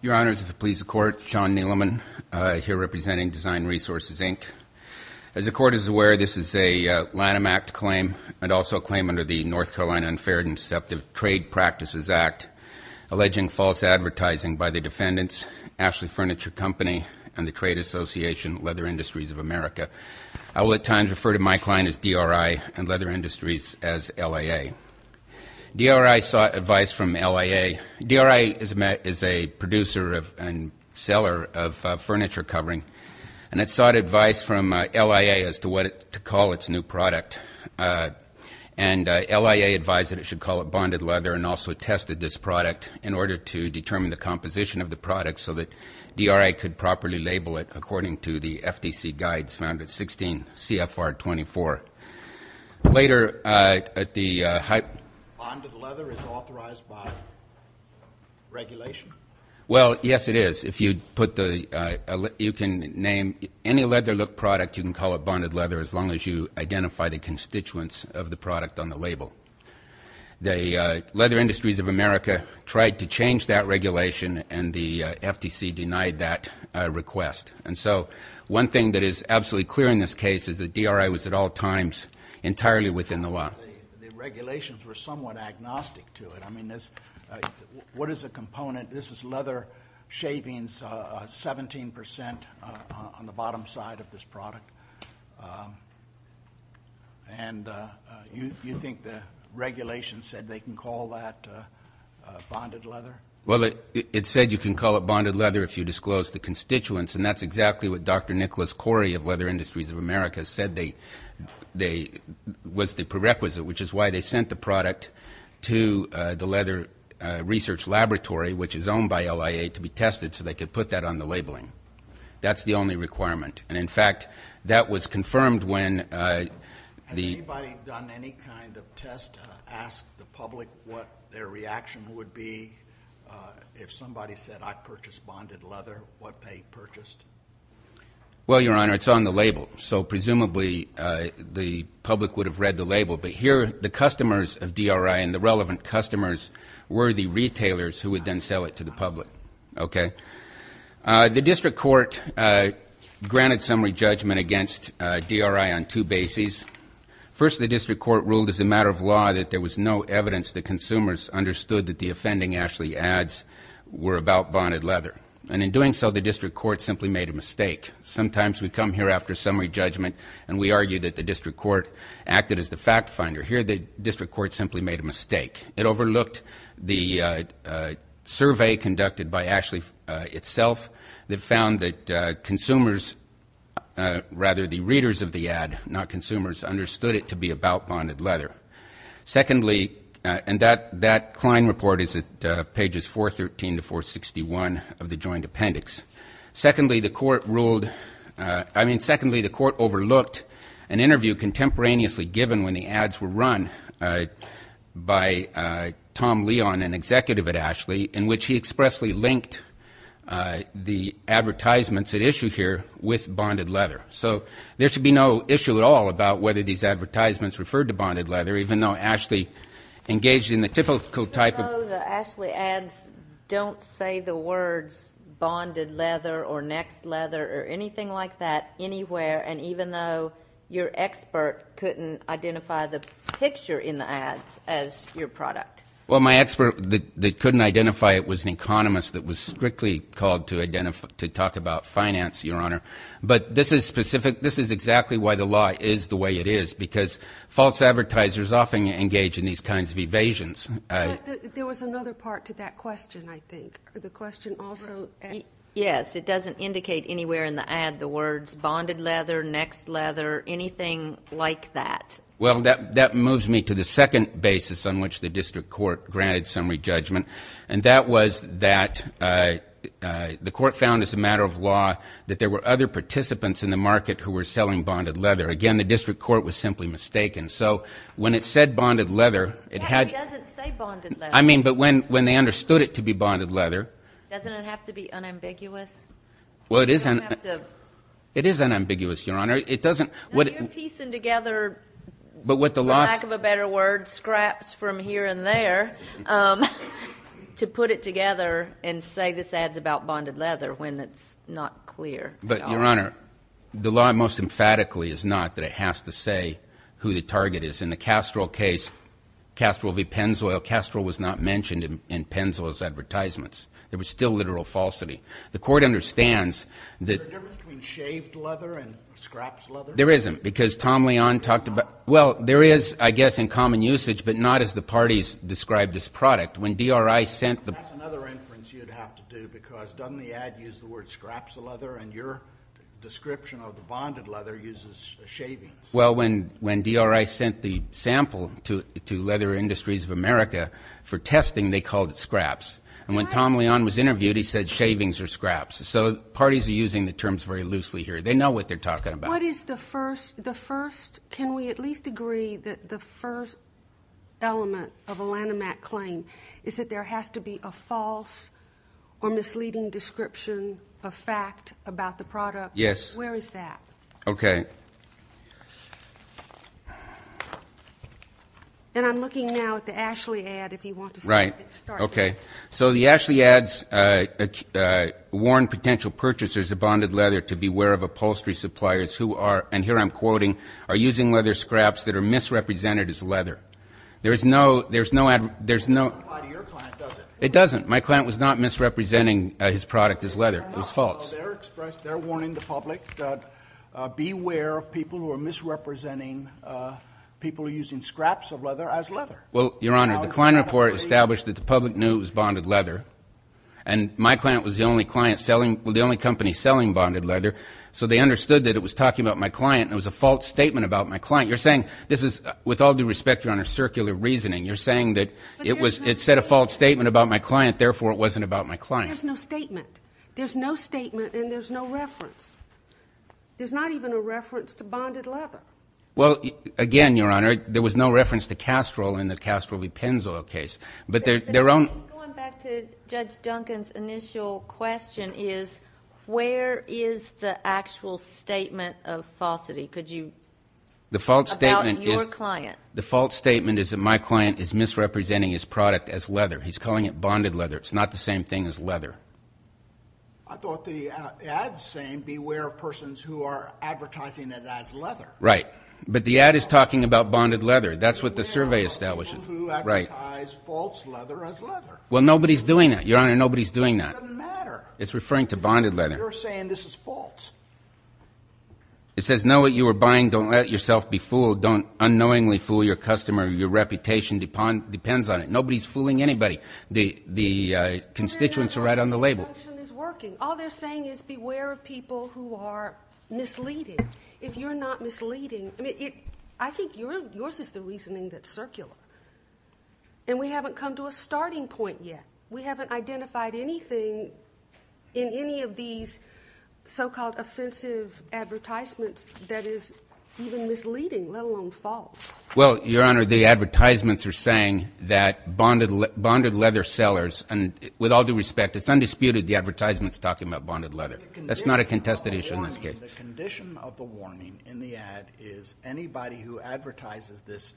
Your Honors, if it please the Court, John Neeleman, here representing Design Resources, Inc. As the Court is aware, this is a Lanham Act claim and also a claim under the North Carolina Unfair and Deceptive Trade Practices Act, alleging false advertising by the defendants, Ashley Furniture Company and the trade association, Leather Industries of America. I will at times refer to my client as DRI and Leather Industries as LIA. DRI sought advice from LIA. DRI is a producer and seller of furniture covering, and it sought advice from LIA as to what to call its new product. And LIA advised that it should call it bonded leather and also tested this product in order to determine the composition of the product so that DRI could properly label it according to the FTC guides found at 16 CFR 24. Later at the high- Bonded leather is authorized by regulation? Well, yes, it is. If you put the you can name any leather look product, you can call it bonded leather, as long as you identify the constituents of the product on the label. The Leather Industries of America tried to change that regulation, and the FTC denied that request. And so one thing that is absolutely clear in this case is that DRI was at all times entirely within the law. The regulations were somewhat agnostic to it. I mean, what is a component? This is leather shavings, 17 percent on the bottom side of this product. And you think the regulation said they can call that bonded leather? Well, it said you can call it bonded leather if you disclose the constituents, and that's exactly what Dr. Nicholas Corey of Leather Industries of America said was the prerequisite, which is why they sent the product to the Leather Research Laboratory, which is owned by LIA, to be tested so they could put that on the labeling. That's the only requirement. And, in fact, that was confirmed when the- If somebody said I purchased bonded leather, what they purchased? Well, Your Honor, it's on the label. So presumably the public would have read the label, but here the customers of DRI and the relevant customers were the retailers who would then sell it to the public. Okay? The district court granted summary judgment against DRI on two bases. First, the district court ruled as a matter of law that there was no evidence the consumers understood that the offending Ashley ads were about bonded leather. And in doing so, the district court simply made a mistake. Sometimes we come here after summary judgment and we argue that the district court acted as the fact finder. Here the district court simply made a mistake. It overlooked the survey conducted by Ashley itself that found that consumers, rather, the readers of the ad, not consumers, understood it to be about bonded leather. Secondly, and that Klein report is at pages 413 to 461 of the joint appendix. Secondly, the court ruled-I mean, secondly, the court overlooked an interview contemporaneously given when the ads were run by Tom Leon, an executive at Ashley, in which he expressly linked the advertisements at issue here with bonded leather. So there should be no issue at all about whether these advertisements referred to bonded leather, even though Ashley engaged in the typical type of- No, the Ashley ads don't say the words bonded leather or next leather or anything like that anywhere, and even though your expert couldn't identify the picture in the ads as your product. Well, my expert that couldn't identify it was an economist that was strictly called to talk about finance, Your Honor. But this is specific-this is exactly why the law is the way it is, because false advertisers often engage in these kinds of evasions. But there was another part to that question, I think. The question also- Yes, it doesn't indicate anywhere in the ad the words bonded leather, next leather, anything like that. Well, that moves me to the second basis on which the district court granted summary judgment, and that was that the court found as a matter of law that there were other participants in the market who were selling bonded leather. Again, the district court was simply mistaken. So when it said bonded leather, it had- Yeah, it doesn't say bonded leather. I mean, but when they understood it to be bonded leather- Doesn't it have to be unambiguous? Well, it is unambiguous, Your Honor. It doesn't- No, you're piecing together, for lack of a better word, scraps from here and there. To put it together and say this ad is about bonded leather when it's not clear. But, Your Honor, the law most emphatically is not that it has to say who the target is. In the Castrol case, Castrol v. Pennzoil, Castrol was not mentioned in Pennzoil's advertisements. There was still literal falsity. The court understands that- Is there a difference between shaved leather and scraps leather? There isn't, because Tom Leon talked about- Well, there is, I guess, in common usage, but not as the parties described this product. When DRI sent the- That's another inference you'd have to do because doesn't the ad use the word scraps leather and your description of the bonded leather uses shavings? Well, when DRI sent the sample to Leather Industries of America for testing, they called it scraps. And when Tom Leon was interviewed, he said shavings or scraps. So parties are using the terms very loosely here. They know what they're talking about. What is the first-the first-can we at least agree that the first element of a Lanham Act claim is that there has to be a false or misleading description of fact about the product? Yes. Where is that? Okay. And I'm looking now at the Ashley ad, if you want to start. Right. Okay. So the Ashley ads warn potential purchasers of bonded leather to beware of upholstery suppliers who are, and here I'm quoting, are using leather scraps that are misrepresented as leather. There is no-there's no-there's no- It doesn't apply to your client, does it? It doesn't. My client was not misrepresenting his product as leather. It was false. They're not. So they're expressing-they're warning the public that beware of people who are misrepresenting people using scraps of leather as leather. Well, Your Honor, the Klein report established that the public knew it was bonded leather, and my client was the only client selling-well, the only company selling bonded leather, so they understood that it was talking about my client and it was a false statement about my client. You're saying this is-with all due respect, Your Honor, circular reasoning. You're saying that it was-it said a false statement about my client, therefore it wasn't about my client. There's no statement. There's no statement and there's no reference. There's not even a reference to bonded leather. Well, again, Your Honor, there was no reference to Castrol in the Castrol v. Pennzoil case, but their own- Going back to Judge Duncan's initial question is where is the actual statement of falsity? Could you- The false statement is- About your client. The false statement is that my client is misrepresenting his product as leather. He's calling it bonded leather. It's not the same thing as leather. I thought the ad's saying beware of persons who are advertising it as leather. Right. But the ad is talking about bonded leather. That's what the survey establishes. Beware of people who advertise false leather as leather. Well, nobody's doing that, Your Honor. Nobody's doing that. It doesn't matter. It's referring to bonded leather. You're saying this is false. It says know what you are buying. Don't let yourself be fooled. Don't unknowingly fool your customer. Your reputation depends on it. Nobody's fooling anybody. The constituents are right on the label. All they're saying is beware of people who are misleading. If you're not misleading, I think yours is the reasoning that's circular. And we haven't come to a starting point yet. We haven't identified anything in any of these so-called offensive advertisements that is even misleading, let alone false. Well, Your Honor, the advertisements are saying that bonded leather sellers, and with all due respect, it's undisputed the advertisement's talking about bonded leather. That's not a contested issue in this case. The condition of the warning in the ad is anybody who advertises this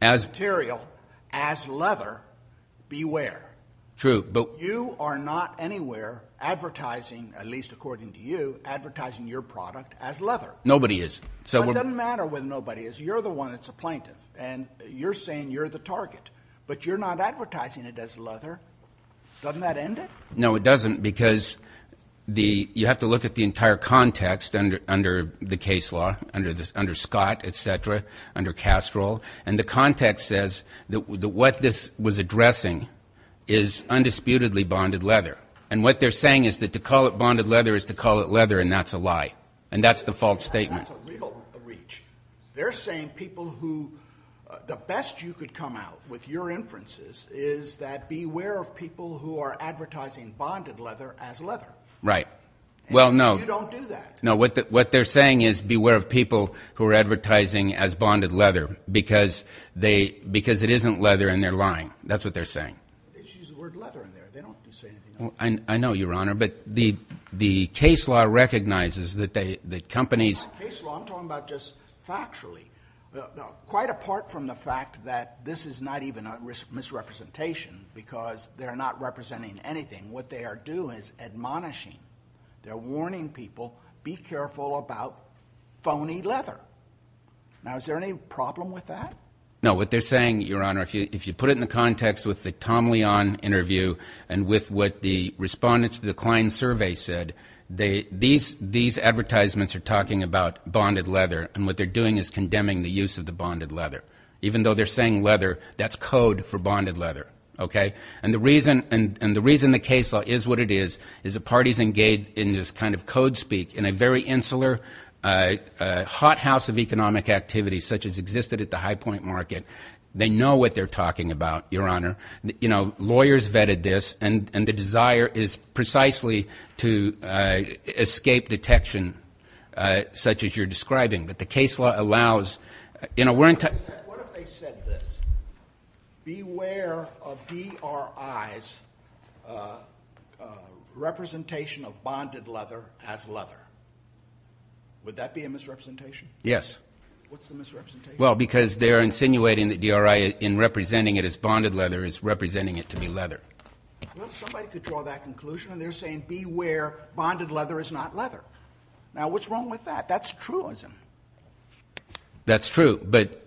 material as leather, beware. True. You are not anywhere advertising, at least according to you, advertising your product as leather. Nobody is. What doesn't matter with nobody is you're the one that's a plaintiff, and you're saying you're the target. But you're not advertising it as leather. Doesn't that end it? No, it doesn't, because you have to look at the entire context under the case law, under Scott, et cetera, under Castro. And the context says that what this was addressing is undisputedly bonded leather. And what they're saying is that to call it bonded leather is to call it leather, and that's a lie. And that's the false statement. That's a real reach. They're saying people who the best you could come out with your inferences is that beware of people who are advertising bonded leather as leather. Right. Well, no. And you don't do that. No, what they're saying is beware of people who are advertising as bonded leather because it isn't leather and they're lying. That's what they're saying. They just use the word leather in there. They don't say anything else. Well, I know, Your Honor, but the case law recognizes that companies. Case law, I'm talking about just factually. Quite apart from the fact that this is not even a misrepresentation because they're not representing anything. What they are doing is admonishing. They're warning people, be careful about phony leather. Now, is there any problem with that? No. What they're saying, Your Honor, if you put it in the context with the Tom Leon interview and with what the respondents to the client survey said, these advertisements are talking about bonded leather and what they're doing is condemning the use of the bonded leather. Even though they're saying leather, that's code for bonded leather. Okay. And the reason the case law is what it is, is that parties engage in this kind of code speak in a very insular, hothouse of economic activity such as existed at the high point market. They know what they're talking about, Your Honor. Lawyers vetted this, and the desire is precisely to escape detection such as you're describing. But the case law allows. What if they said this? Beware of DRI's representation of bonded leather as leather. Would that be a misrepresentation? Yes. What's the misrepresentation? Well, because they're insinuating that DRI in representing it as bonded leather is representing it to be leather. Well, somebody could draw that conclusion, and they're saying, beware, bonded leather is not leather. Now, what's wrong with that? That's truism. That's true. But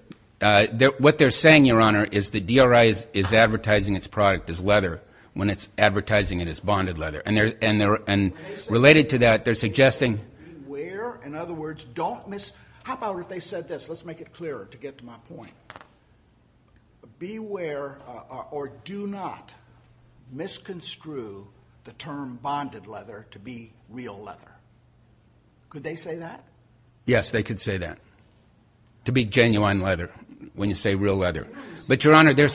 what they're saying, Your Honor, is that DRI is advertising its product as leather when it's advertising it as bonded leather. And related to that, they're suggesting. Beware, in other words, don't miss. How about if they said this? Let's make it clearer to get to my point. Beware or do not misconstrue the term bonded leather to be real leather. Could they say that? Yes, they could say that. To be genuine leather when you say real leather. But, Your Honor, they're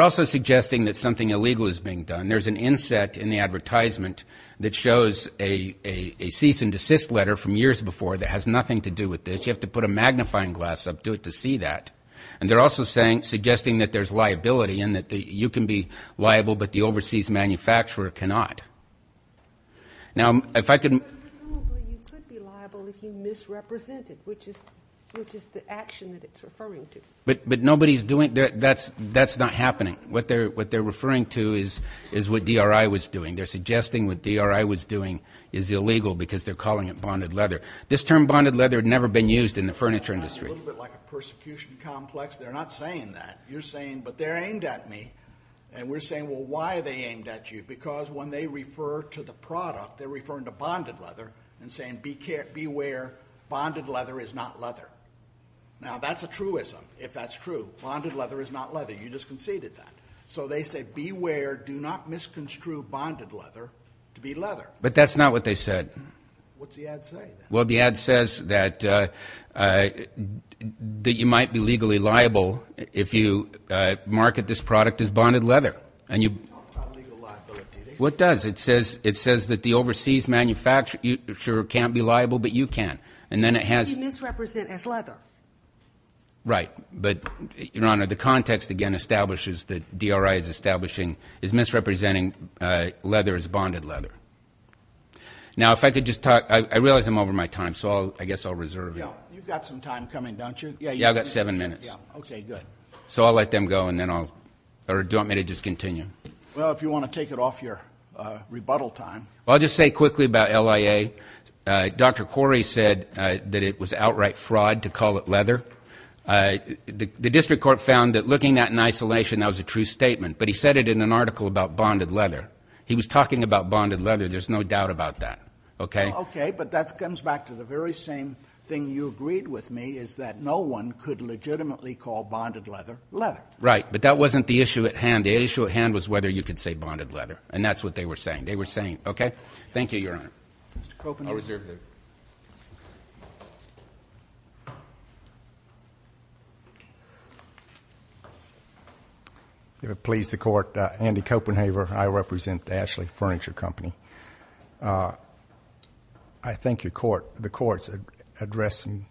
also suggesting that something illegal is being done. There's an inset in the advertisement that shows a cease and desist letter from years before that has nothing to do with this. You have to put a magnifying glass up to it to see that. And they're also suggesting that there's liability and that you can be liable, but the overseas manufacturer cannot. Now, if I could. But presumably you could be liable if you misrepresent it, which is the action that it's referring to. But nobody's doing. That's not happening. What they're referring to is what DRI was doing. They're suggesting what DRI was doing is illegal because they're calling it bonded leather. This term bonded leather had never been used in the furniture industry. It sounds a little bit like a persecution complex. They're not saying that. You're saying, but they're aimed at me. And we're saying, well, why are they aimed at you? Because when they refer to the product, they're referring to bonded leather and saying, beware, bonded leather is not leather. Now, that's a truism, if that's true. Bonded leather is not leather. You just conceded that. So they say, beware, do not misconstrue bonded leather to be leather. But that's not what they said. What's the ad say? Well, the ad says that you might be legally liable if you market this product as bonded leather. What does? It says that the overseas manufacturer can't be liable, but you can. And then it has. You misrepresent as leather. Right. But, Your Honor, the context, again, establishes that DRI is establishing, is misrepresenting leather as bonded leather. Now, if I could just talk. I realize I'm over my time, so I guess I'll reserve it. You've got some time coming, don't you? Yeah, I've got seven minutes. Okay, good. So I'll let them go, and then I'll, or do you want me to just continue? Well, if you want to take it off your rebuttal time. I'll just say quickly about LIA. Dr. Corey said that it was outright fraud to call it leather. The district court found that looking at it in isolation, that was a true statement. But he said it in an article about bonded leather. He was talking about bonded leather. There's no doubt about that. Okay? Okay, but that comes back to the very same thing you agreed with me, is that no one could legitimately call bonded leather leather. Right, but that wasn't the issue at hand. The issue at hand was whether you could say bonded leather, and that's what they were saying. They were saying, okay? Thank you, Your Honor. Mr. Copenhaver. I'll reserve it. If it pleases the court, Andy Copenhaver. I represent Ashley Furniture Company. I thank your court. The court has addressed some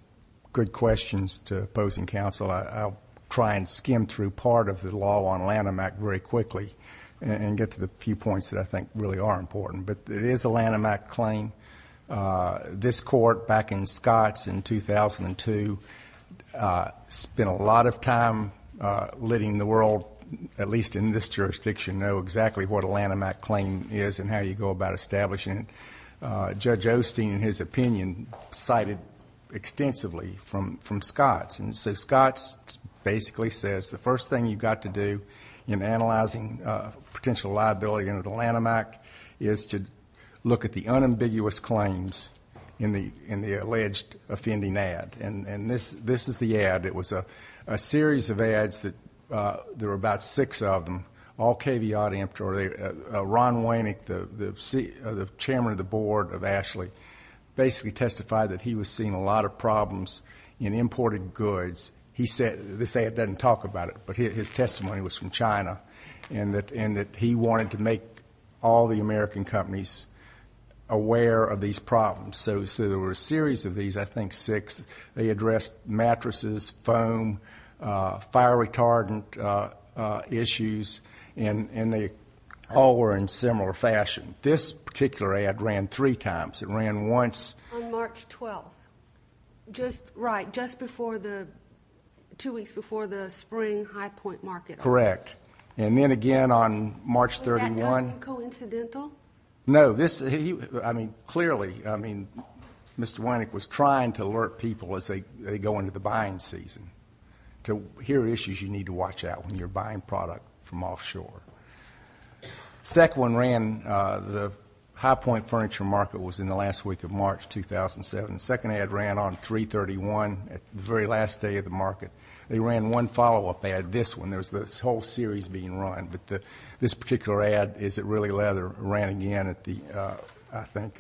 good questions to opposing counsel. I'll try and skim through part of the law on Lanham Act very quickly and get to the few points that I think really are important. But it is a Lanham Act claim. This court, back in Scotts in 2002, spent a lot of time letting the world, at least in this jurisdiction, know exactly what a Lanham Act claim is and how you go about establishing it. Judge Osteen, in his opinion, cited extensively from Scotts. And so Scotts basically says the first thing you've got to do in analyzing potential liability under the Lanham Act is to look at the unambiguous claims in the alleged offending ad. And this is the ad. It was a series of ads that there were about six of them, all caveat emptor. Ron Wainick, the chairman of the board of Ashley, basically testified that he was seeing a lot of problems in imported goods. This ad doesn't talk about it, but his testimony was from China and that he wanted to make all the American companies aware of these problems. So there were a series of these, I think six. They addressed mattresses, foam, fire retardant issues, and they all were in similar fashion. This particular ad ran three times. It ran once. On March 12th. Right, just two weeks before the spring high point market. Correct. And then again on March 31. Was that not coincidental? No. I mean, clearly, I mean, Mr. Wainick was trying to alert people as they go into the buying season to here are issues you need to watch out when you're buying product from offshore. The second one ran, the high point furniture market was in the last week of March 2007. The second ad ran on 3-31, the very last day of the market. They ran one follow-up ad, this one. There was this whole series being run. But this particular ad, is it really leather, ran again at the, I think,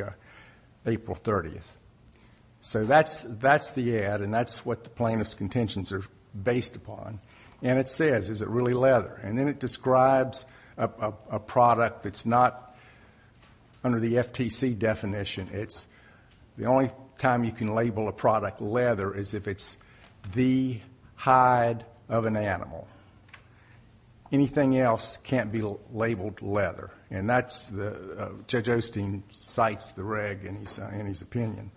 April 30th. So that's the ad, and that's what the plaintiff's contentions are based upon. And it says, is it really leather? And then it describes a product that's not under the FTC definition. It's the only time you can label a product leather is if it's the hide of an animal. Anything else can't be labeled leather. Judge Osteen cites the reg in his opinion.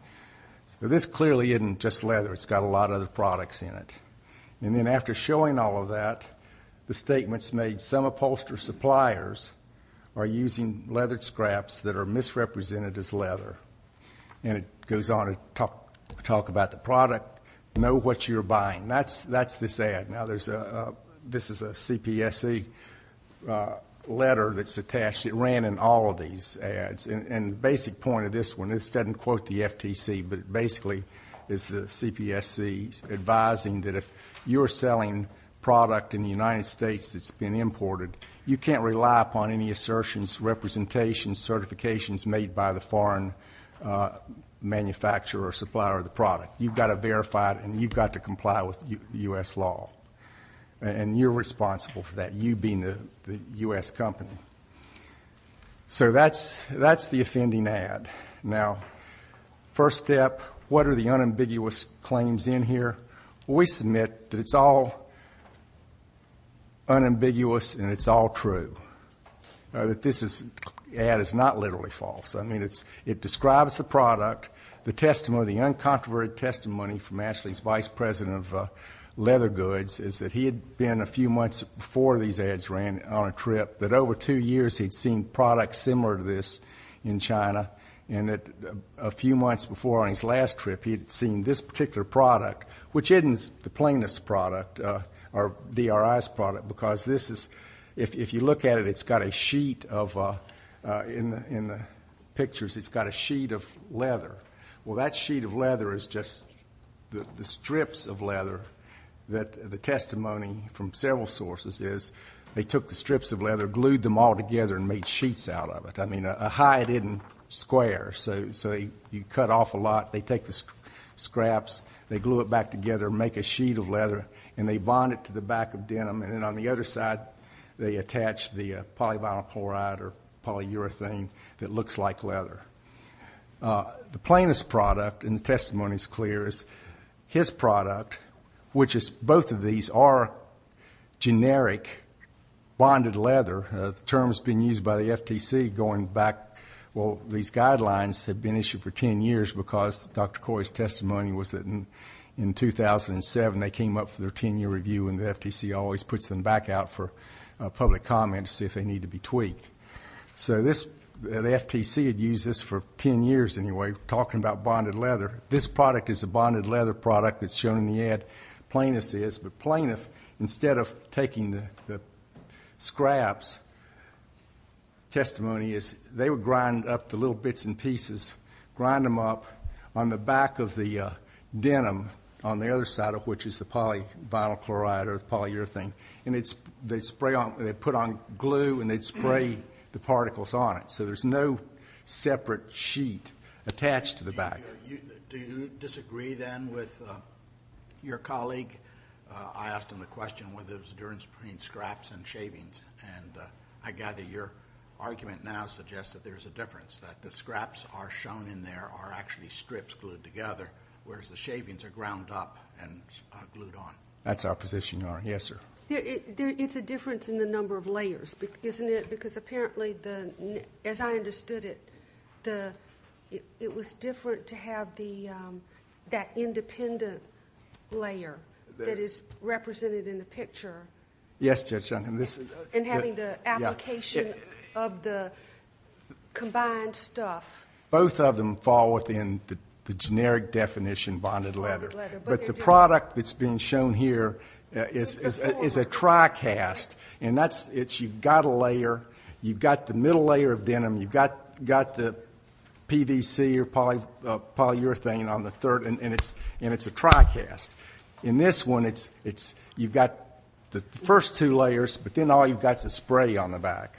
This clearly isn't just leather. It's got a lot of other products in it. And then after showing all of that, the statements made, some upholstered suppliers are using leather scraps that are misrepresented as leather. And it goes on to talk about the product, know what you're buying. That's this ad. Now, this is a CPSC letter that's attached. It ran in all of these ads. And the basic point of this one, this doesn't quote the FTC, but basically it's the CPSC advising that if you're selling product in the United States that's been imported, you can't rely upon any assertions, representations, certifications made by the foreign manufacturer or supplier of the product. You've got to verify it and you've got to comply with U.S. law. And you're responsible for that, you being the U.S. company. So that's the offending ad. Now, first step, what are the unambiguous claims in here? We submit that it's all unambiguous and it's all true, that this ad is not literally false. I mean, it describes the product, the testimony, the uncontroverted testimony from Ashley's vice president of leather goods, is that he had been a few months before these ads ran on a trip, that over two years he'd seen products similar to this in China, and that a few months before on his last trip he'd seen this particular product, which isn't the plaintiff's product or DRI's product, because this is, if you look at it, it's got a sheet of leather. Well, that sheet of leather is just the strips of leather that the testimony from several sources is they took the strips of leather, glued them all together, and made sheets out of it. I mean, a high didn't square, so you cut off a lot. They take the scraps, they glue it back together, make a sheet of leather, and they bond it to the back of denim. And then on the other side they attach the polyvinyl chloride or polyurethane that looks like leather. The plaintiff's product, and the testimony is clear, is his product, which is both of these are generic bonded leather. The term's been used by the FTC going back, well, these guidelines had been issued for 10 years because Dr. Corey's testimony was that in 2007 they came up for their 10-year review and the FTC always puts them back out for public comment to see if they need to be tweaked. So the FTC had used this for 10 years anyway, talking about bonded leather. This product is a bonded leather product that's shown in the ad. Plaintiff's is. But plaintiff, instead of taking the scraps, testimony is they would grind up the little bits and pieces, grind them up on the back of the denim on the other side, which is the polyvinyl chloride or polyurethane, and they'd put on glue and they'd spray the particles on it. So there's no separate sheet attached to the back. Do you disagree then with your colleague? I asked him the question whether there was a difference between scraps and shavings, and I gather your argument now suggests that there's a difference, that the scraps are shown in there are actually strips glued together, whereas the shavings are ground up and glued on. That's our position, Your Honor. Yes, sir. It's a difference in the number of layers, isn't it? Because apparently, as I understood it, it was different to have that independent layer that is represented in the picture. Yes, Judge Duncan. And having the application of the combined stuff. Both of them fall within the generic definition, bonded leather. But the product that's being shown here is a tri-cast, and you've got a layer. You've got the middle layer of denim. You've got the PVC or polyurethane on the third, and it's a tri-cast. In this one, you've got the first two layers, but then all you've got is a spray on the back.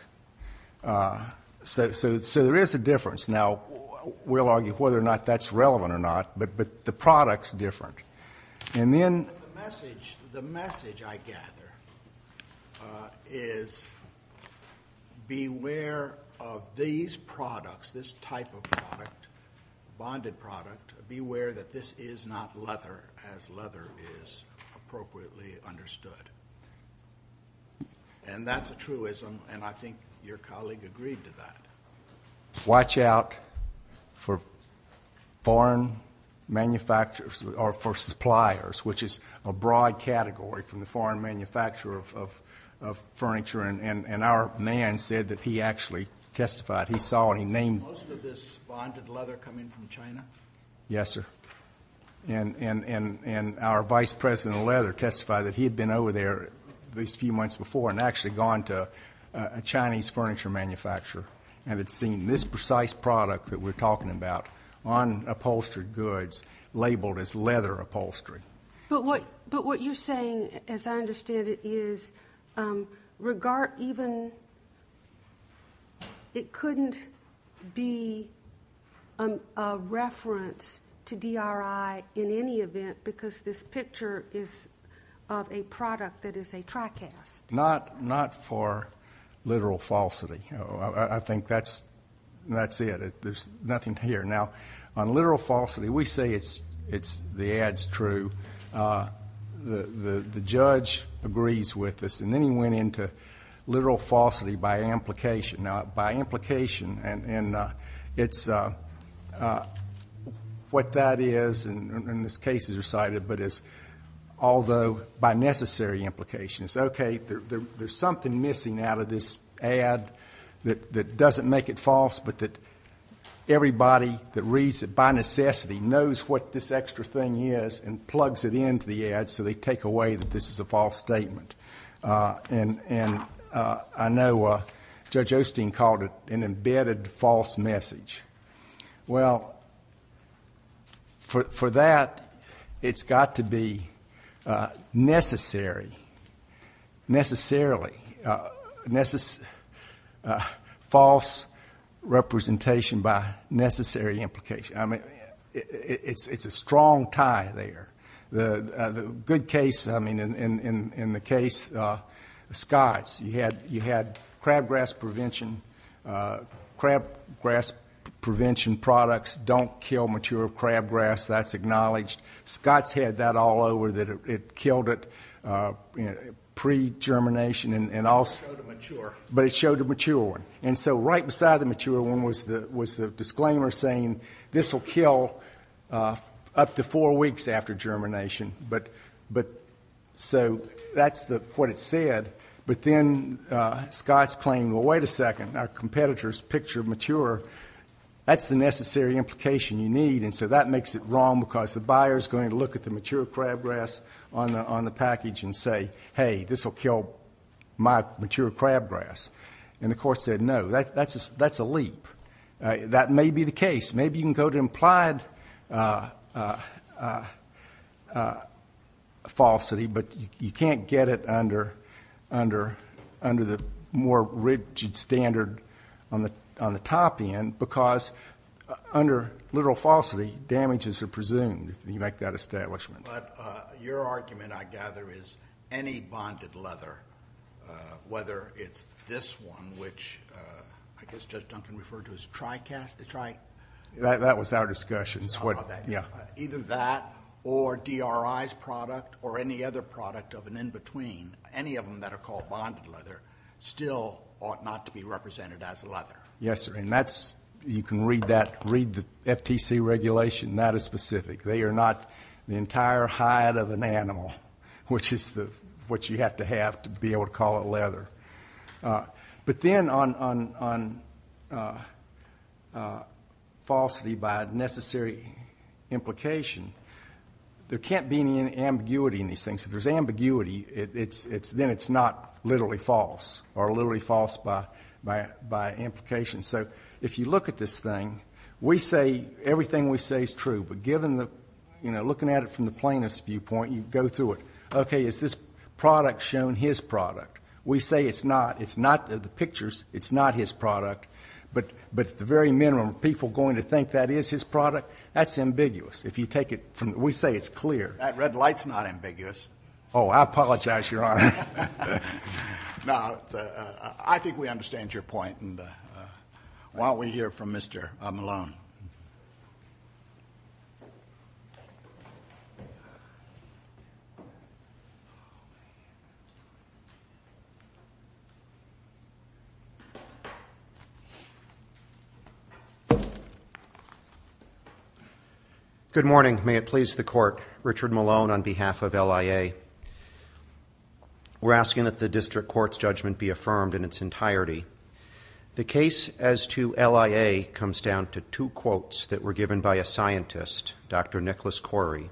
So there is a difference. Now, we'll argue whether or not that's relevant or not, but the product's different. The message I gather is beware of these products, this type of product, bonded product. Beware that this is not leather as leather is appropriately understood. And that's a truism, and I think your colleague agreed to that. Watch out for foreign manufacturers or for suppliers, which is a broad category from the foreign manufacturer of furniture, and our man said that he actually testified. Most of this bonded leather come in from China? Yes, sir. And our vice president of leather testified that he had been over there these few months before and actually gone to a Chinese furniture manufacturer and had seen this precise product that we're talking about on upholstered goods labeled as leather upholstery. But what you're saying, as I understand it, is it couldn't be a reference to DRI in any event because this picture is of a product that is a TriCast. Not for literal falsity. I think that's it. There's nothing here. Now, on literal falsity, we say the ad's true. The judge agrees with us. And then he went into literal falsity by implication. Now, by implication, and it's what that is, and this case is recited, but it's although by necessary implications. Okay, there's something missing out of this ad that doesn't make it false but that everybody that reads it by necessity knows what this extra thing is and plugs it into the ad so they take away that this is a false statement. And I know Judge Osteen called it an embedded false message. Well, for that, it's got to be necessary, necessarily, false representation by necessary implication. I mean, it's a strong tie there. The good case, I mean, in the case of Scott's, you had crabgrass prevention products don't kill mature crabgrass. That's acknowledged. Scott's had that all over, that it killed it pre-germination. But it showed a mature one. And so right beside the mature one was the disclaimer saying, this will kill up to four weeks after germination. So that's what it said. But then Scott's claiming, well, wait a second, our competitors picture mature. That's the necessary implication you need, and so that makes it wrong because the buyer is going to look at the mature crabgrass on the package and say, hey, this will kill my mature crabgrass. And the court said, no, that's a leap. That may be the case. Maybe you can go to implied falsity, but you can't get it under the more rigid standard on the top end because under literal falsity, damages are presumed. You make that establishment. But your argument, I gather, is any bonded leather, whether it's this one, which I guess Judge Duncan referred to as TriCast. That was our discussion. Either that or DRI's product or any other product of an in-between, any of them that are called bonded leather still ought not to be represented as leather. Yes, sir. And you can read the FTC regulation. That is specific. They are not the entire hide of an animal, which is what you have to have to be able to call it leather. But then on falsity by necessary implication, there can't be any ambiguity in these things. If there's ambiguity, then it's not literally false or literally false by implication. So if you look at this thing, we say everything we say is true. But looking at it from the plaintiff's viewpoint, you go through it. Okay, is this product shown his product? We say it's not. It's not in the pictures. It's not his product. But at the very minimum, are people going to think that is his product? That's ambiguous. We say it's clear. That red light's not ambiguous. Oh, I apologize, Your Honor. No, I think we understand your point. Why don't we hear from Mr. Malone? Good morning. May it please the Court, Richard Malone on behalf of LIA. We're asking that the district court's judgment be affirmed in its entirety. The case as to LIA comes down to two quotes that were given by a scientist, Dr. Nicholas Corey,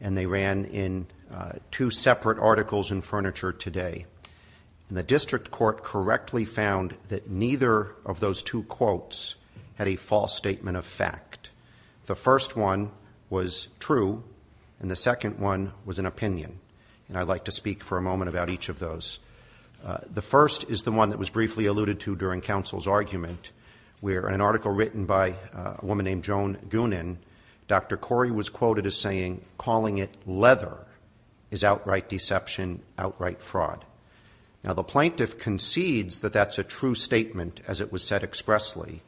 and they ran in two separate articles in Furniture Today. And the district court correctly found that neither of those two quotes had a false statement of fact. The first one was true, and the second one was an opinion, and I'd like to speak for a moment about each of those. The first is the one that was briefly alluded to during counsel's argument, where in an article written by a woman named Joan Gunan, Dr. Corey was quoted as saying, calling it leather is outright deception, outright fraud. Now, the plaintiff concedes that that's a true statement, as it was said expressly,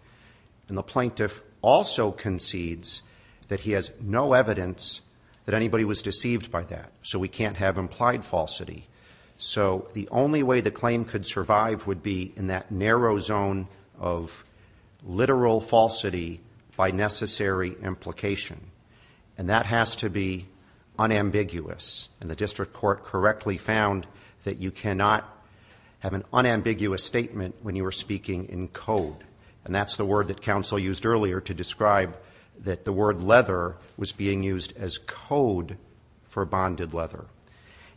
and the plaintiff also concedes that he has no evidence that anybody was deceived by that, so we can't have implied falsity. So the only way the claim could survive would be in that narrow zone of literal falsity by necessary implication, and that has to be unambiguous. And the district court correctly found that you cannot have an unambiguous statement when you are speaking in code, and that's the word that counsel used earlier to describe that the word leather was being used as code for bonded leather.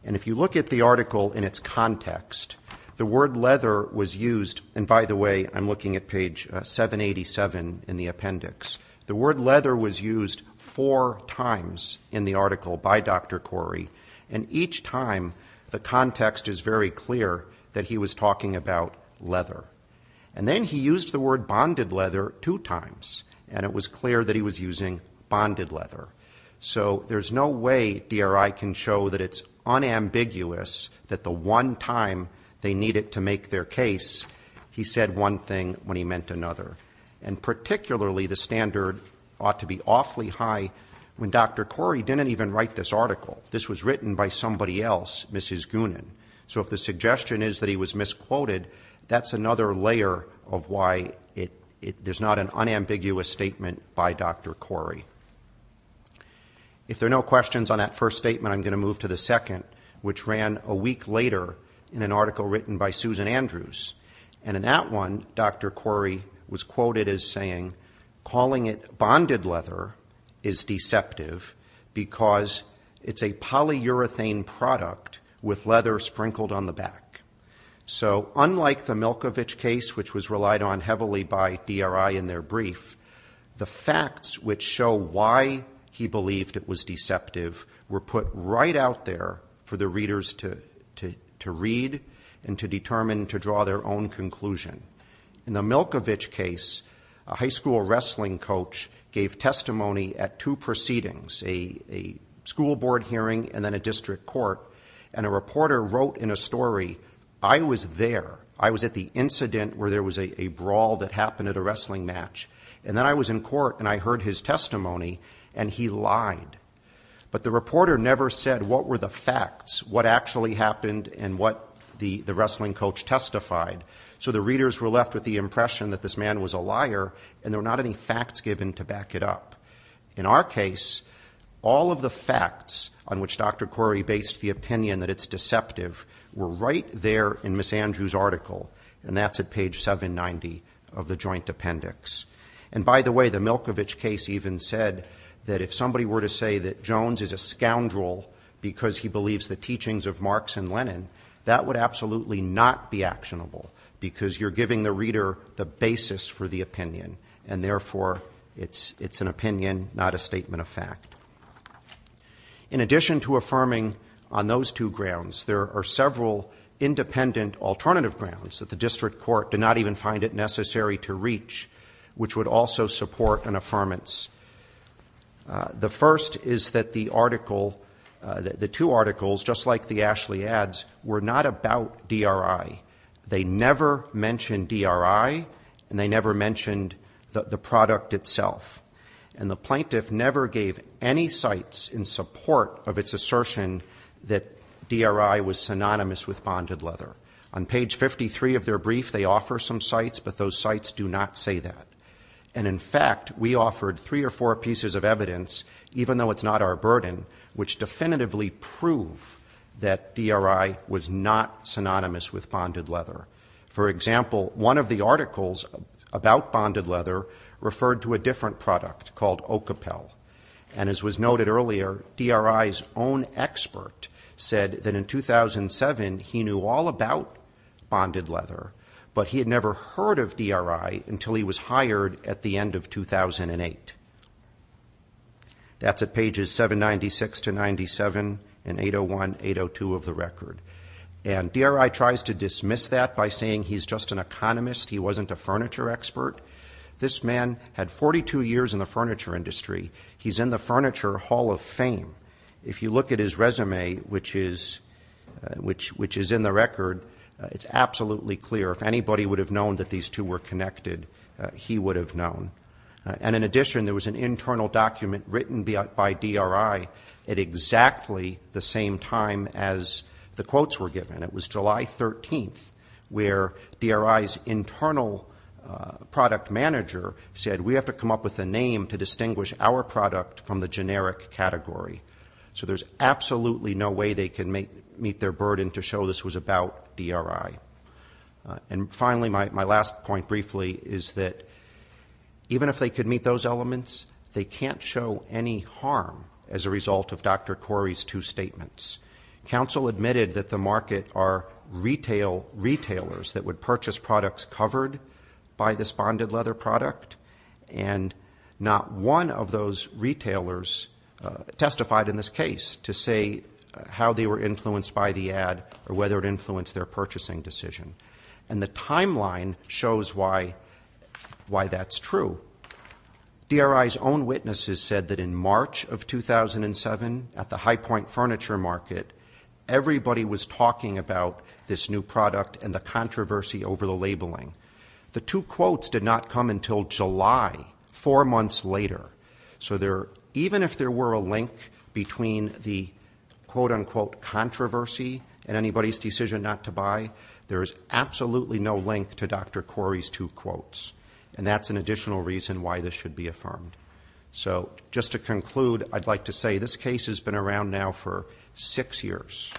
And if you look at the article in its context, the word leather was used, and by the way, I'm looking at page 787 in the appendix. The word leather was used four times in the article by Dr. Corey, and each time the context is very clear that he was talking about leather. And then he used the word bonded leather two times, and it was clear that he was using bonded leather. So there's no way DRI can show that it's unambiguous that the one time they needed to make their case, he said one thing when he meant another. And particularly, the standard ought to be awfully high when Dr. Corey didn't even write this article. This was written by somebody else, Mrs. Goonan. So if the suggestion is that he was misquoted, that's another layer of why there's not an unambiguous statement by Dr. Corey. If there are no questions on that first statement, I'm going to move to the second, which ran a week later in an article written by Susan Andrews. And in that one, Dr. Corey was quoted as saying, calling it bonded leather is deceptive because it's a polyurethane product with leather sprinkled on the back. So unlike the Milkovich case, which was relied on heavily by DRI in their brief, the facts which show why he believed it was deceptive were put right out there for the readers to read and to determine to draw their own conclusion. In the Milkovich case, a high school wrestling coach gave testimony at two proceedings, a school board hearing and then a district court, and a reporter wrote in a story, I was there, I was at the incident where there was a brawl that happened at a wrestling match, and then I was in court and I heard his testimony and he lied. But the reporter never said what were the facts, what actually happened and what the wrestling coach testified. So the readers were left with the impression that this man was a liar and there were not any facts given to back it up. In our case, all of the facts on which Dr. Corey based the opinion that it's deceptive were right there in Ms. Andrews' article, and that's at page 790 of the joint appendix. And by the way, the Milkovich case even said that if somebody were to say that Jones is a scoundrel because he believes the teachings of Marx and Lenin, that would absolutely not be actionable because you're giving the reader the basis for the opinion, and therefore it's an opinion, not a statement of fact. In addition to affirming on those two grounds, there are several independent alternative grounds that the district court did not even find it necessary to reach, which would also support an affirmance. The first is that the article, the two articles, just like the Ashley adds, were not about DRI. They never mentioned DRI, and they never mentioned the product itself. And the plaintiff never gave any cites in support of its assertion that DRI was synonymous with bonded leather. On page 53 of their brief, they offer some cites, but those cites do not say that. And in fact, we offered three or four pieces of evidence, even though it's not our burden, which definitively prove that DRI was not synonymous with bonded leather. For example, one of the articles about bonded leather referred to a different product called Ocapel. And as was noted earlier, DRI's own expert said that in 2007, he knew all about bonded leather, but he had never heard of DRI until he was hired at the end of 2008. That's at pages 796 to 97 in 801, 802 of the record. And DRI tries to dismiss that by saying he's just an economist, he wasn't a furniture expert. This man had 42 years in the furniture industry. He's in the Furniture Hall of Fame. If you look at his resume, which is in the record, it's absolutely clear. If anybody would have known that these two were connected, he would have known. And in addition, there was an internal document written by DRI at exactly the same time as the quotes were given. It was July 13th, where DRI's internal product manager said, we have to come up with a name to distinguish our product from the generic category. So there's absolutely no way they can meet their burden to show this was about DRI. And finally, my last point briefly is that, even if they could meet those elements, they can't show any harm as a result of Dr. Corey's two statements. Council admitted that the market are retailers that would purchase products covered by this bonded leather product, and not one of those retailers testified in this case to say how they were influenced by the ad or whether it influenced their purchasing decision. And the timeline shows why that's true. DRI's own witnesses said that in March of 2007, at the High Point Furniture Market, everybody was talking about this new product and the controversy over the labeling. The two quotes did not come until July, four months later. So even if there were a link between the quote-unquote controversy and anybody's decision not to buy, there is absolutely no link to Dr. Corey's two quotes. And that's an additional reason why this should be affirmed. So just to conclude, I'd like to say this case has been around now for six years.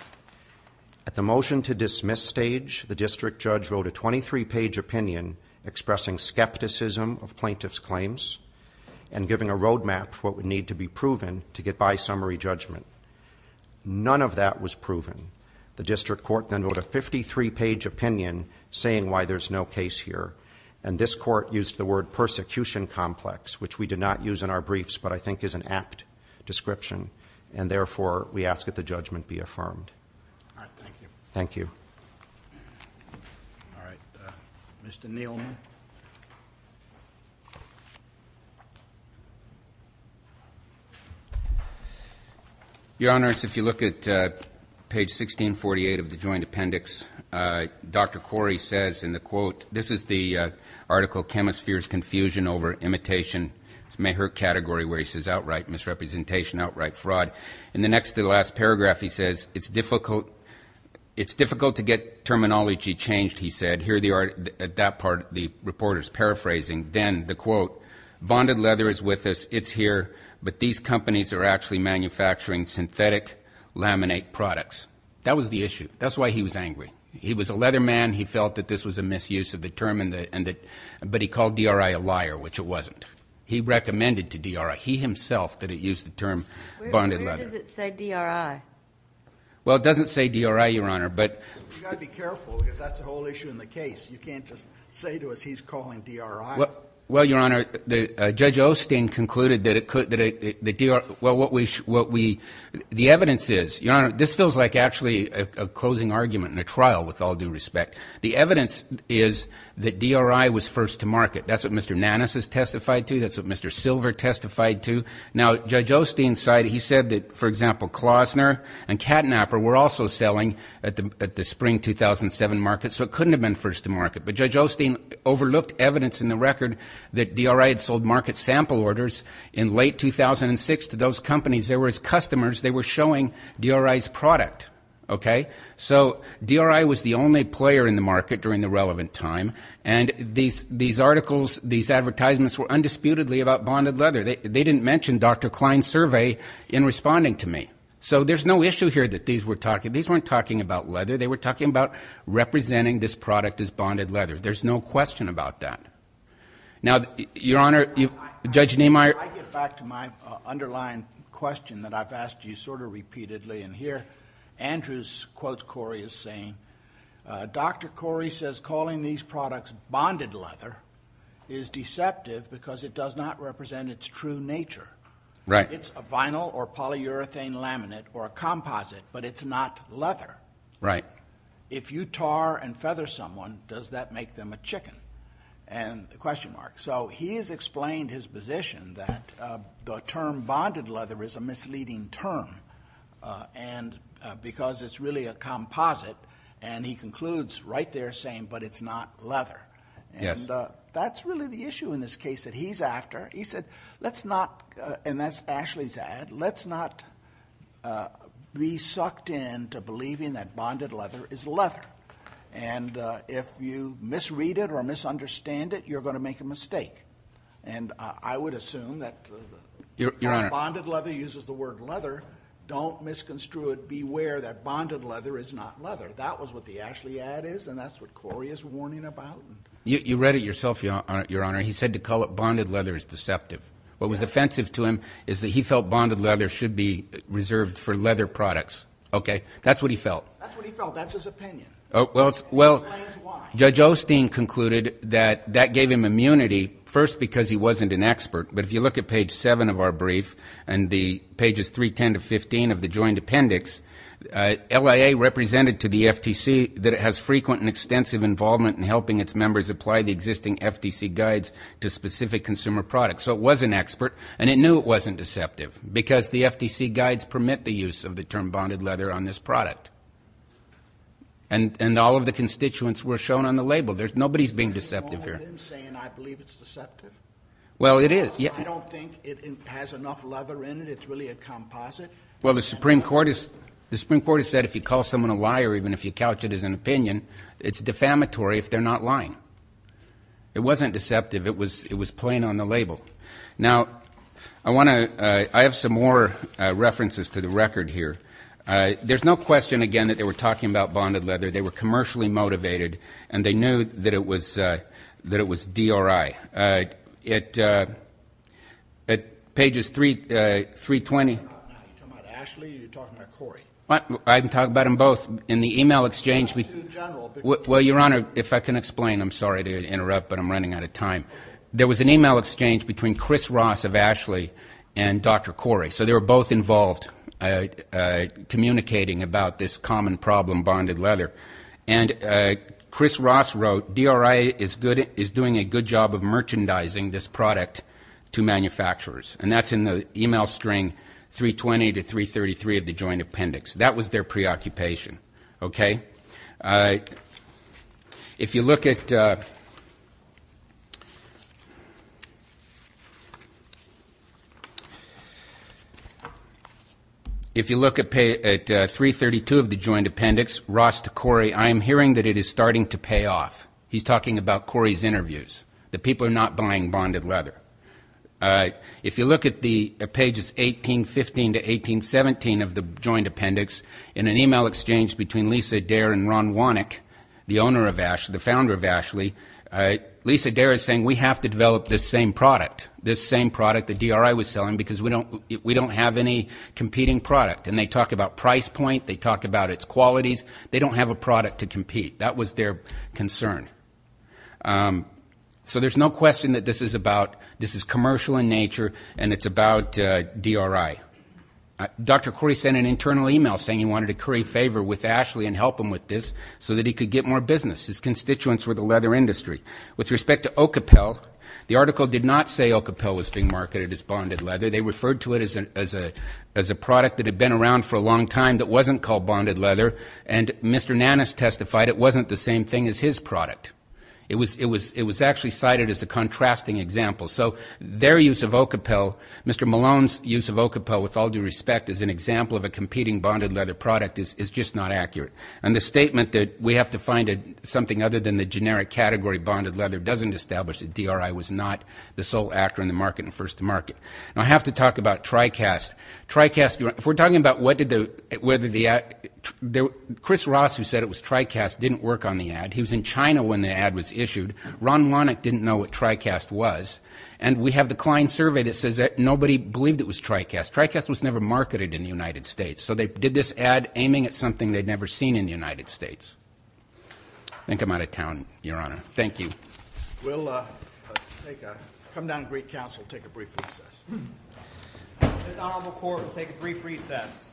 At the motion-to-dismiss stage, the district judge wrote a 23-page opinion expressing skepticism of plaintiffs' claims and giving a roadmap for what would need to be proven to get by summary judgment. None of that was proven. The district court then wrote a 53-page opinion saying why there's no case here. And this court used the word persecution complex, which we did not use in our briefs but I think is an apt description, and therefore we ask that the judgment be affirmed. All right, thank you. Thank you. All right, Mr. Neilman. Your Honors, if you look at page 1648 of the joint appendix, Dr. Corey says in the quote, this is the article, Chemisphere's Confusion Over Imitation, it's Mayher category where he says outright misrepresentation, outright fraud. In the next to the last paragraph he says, it's difficult to get terminology changed, he said. Here at that part the reporter's paraphrasing. Then the quote, bonded leather is with us, it's here, but these companies are actually manufacturing synthetic laminate products. That was the issue. That's why he was angry. He was a leather man. He felt that this was a misuse of the term, but he called DRI a liar, which it wasn't. He recommended to DRI. He himself used the term bonded leather. Where does it say DRI? Well, it doesn't say DRI, Your Honor. You've got to be careful because that's the whole issue in the case. You can't just say to us he's calling DRI. Well, Your Honor, Judge Osteen concluded that it could, well, the evidence is, Your Honor, this feels like actually a closing argument in a trial with all due respect. The evidence is that DRI was first to market. That's what Mr. Nanus has testified to. That's what Mr. Silver testified to. Now, Judge Osteen said that, for example, Klausner and Katnapper were also selling at the spring 2007 market, so it couldn't have been first to market, but Judge Osteen overlooked evidence in the record that DRI had sold market sample orders in late 2006 to those companies. They were his customers. They were showing DRI's product, okay? So DRI was the only player in the market during the relevant time, and these articles, these advertisements were undisputedly about bonded leather. They didn't mention Dr. Klein's survey in responding to me. So there's no issue here that these were talking. These weren't talking about leather. They were talking about representing this product as bonded leather. There's no question about that. Now, Your Honor, Judge Neimeyer. I get back to my underlying question that I've asked you sort of repeatedly, and here Andrew quotes Corey as saying, Dr. Corey says calling these products bonded leather is deceptive because it does not represent its true nature. It's a vinyl or polyurethane laminate or a composite, but it's not leather. If you tar and feather someone, does that make them a chicken? So he has explained his position that the term bonded leather is a misleading term, and because it's really a composite, and he concludes right there saying, but it's not leather. Yes. And that's really the issue in this case that he's after. He said, let's not, and that's Ashley's ad, let's not be sucked into believing that bonded leather is leather. And if you misread it or misunderstand it, you're going to make a mistake. And I would assume that bonded leather uses the word leather. Don't misconstrue it. Beware that bonded leather is not leather. That was what the Ashley ad is, and that's what Corey is warning about. You read it yourself, Your Honor. He said to call it bonded leather is deceptive. What was offensive to him is that he felt bonded leather should be reserved for leather products. Okay? That's what he felt. That's what he felt. That's his opinion. Well, Judge Osteen concluded that that gave him immunity, first because he wasn't an expert, but if you look at page 7 of our brief and the pages 3, 10 to 15 of the joint appendix, LIA represented to the FTC that it has frequent and extensive involvement in helping its members apply the existing FTC guides to specific consumer products. So it was an expert, and it knew it wasn't deceptive because the FTC guides permit the use of the term and all of the constituents were shown on the label. Nobody is being deceptive here. Are you saying I believe it's deceptive? Well, it is. I don't think it has enough leather in it. It's really a composite. Well, the Supreme Court has said if you call someone a liar, even if you couch it as an opinion, it's defamatory if they're not lying. It wasn't deceptive. It was plain on the label. Now, I have some more references to the record here. There's no question, again, that they were talking about bonded leather. They were commercially motivated, and they knew that it was DRI. At pages 320. Are you talking about Ashley or are you talking about Corey? I'm talking about them both. In the e-mail exchange. Talk to the general. Well, Your Honor, if I can explain. I'm sorry to interrupt, but I'm running out of time. There was an e-mail exchange between Chris Ross of Ashley and Dr. Corey. So they were both involved communicating about this common problem, bonded leather. And Chris Ross wrote, DRI is doing a good job of merchandising this product to manufacturers. And that's in the e-mail string 320 to 333 of the joint appendix. That was their preoccupation. Okay? If you look at 332 of the joint appendix, Ross to Corey, I am hearing that it is starting to pay off. He's talking about Corey's interviews. The people are not buying bonded leather. If you look at the pages 1815 to 1817 of the joint appendix, in an e-mail exchange between Lisa Dare and Ron Wannick, the founder of Ashley, Lisa Dare is saying we have to develop this same product, this same product that DRI was selling, because we don't have any competing product. And they talk about price point. They talk about its qualities. They don't have a product to compete. That was their concern. So there's no question that this is about this is commercial in nature, and it's about DRI. Dr. Corey sent an internal e-mail saying he wanted to curry favor with Ashley and help him with this so that he could get more business. His constituents were the leather industry. With respect to Ocapel, the article did not say Ocapel was being marketed as bonded leather. They referred to it as a product that had been around for a long time that wasn't called bonded leather. And Mr. Nannis testified it wasn't the same thing as his product. It was actually cited as a contrasting example. So their use of Ocapel, Mr. Malone's use of Ocapel, with all due respect, as an example of a competing bonded leather product is just not accurate. And the statement that we have to find something other than the generic category bonded leather doesn't establish that DRI was not the sole actor in the market and first to market. Now, I have to talk about TriCast. If we're talking about whether the ad, Chris Ross, who said it was TriCast, didn't work on the ad. He was in China when the ad was issued. Ron Lonick didn't know what TriCast was. And we have the client survey that says that nobody believed it was TriCast. TriCast was never marketed in the United States. So they did this ad aiming at something they'd never seen in the United States. I think I'm out of town, Your Honor. Thank you. We'll come down to Greek Council and take a brief recess. This honorable court will take a brief recess.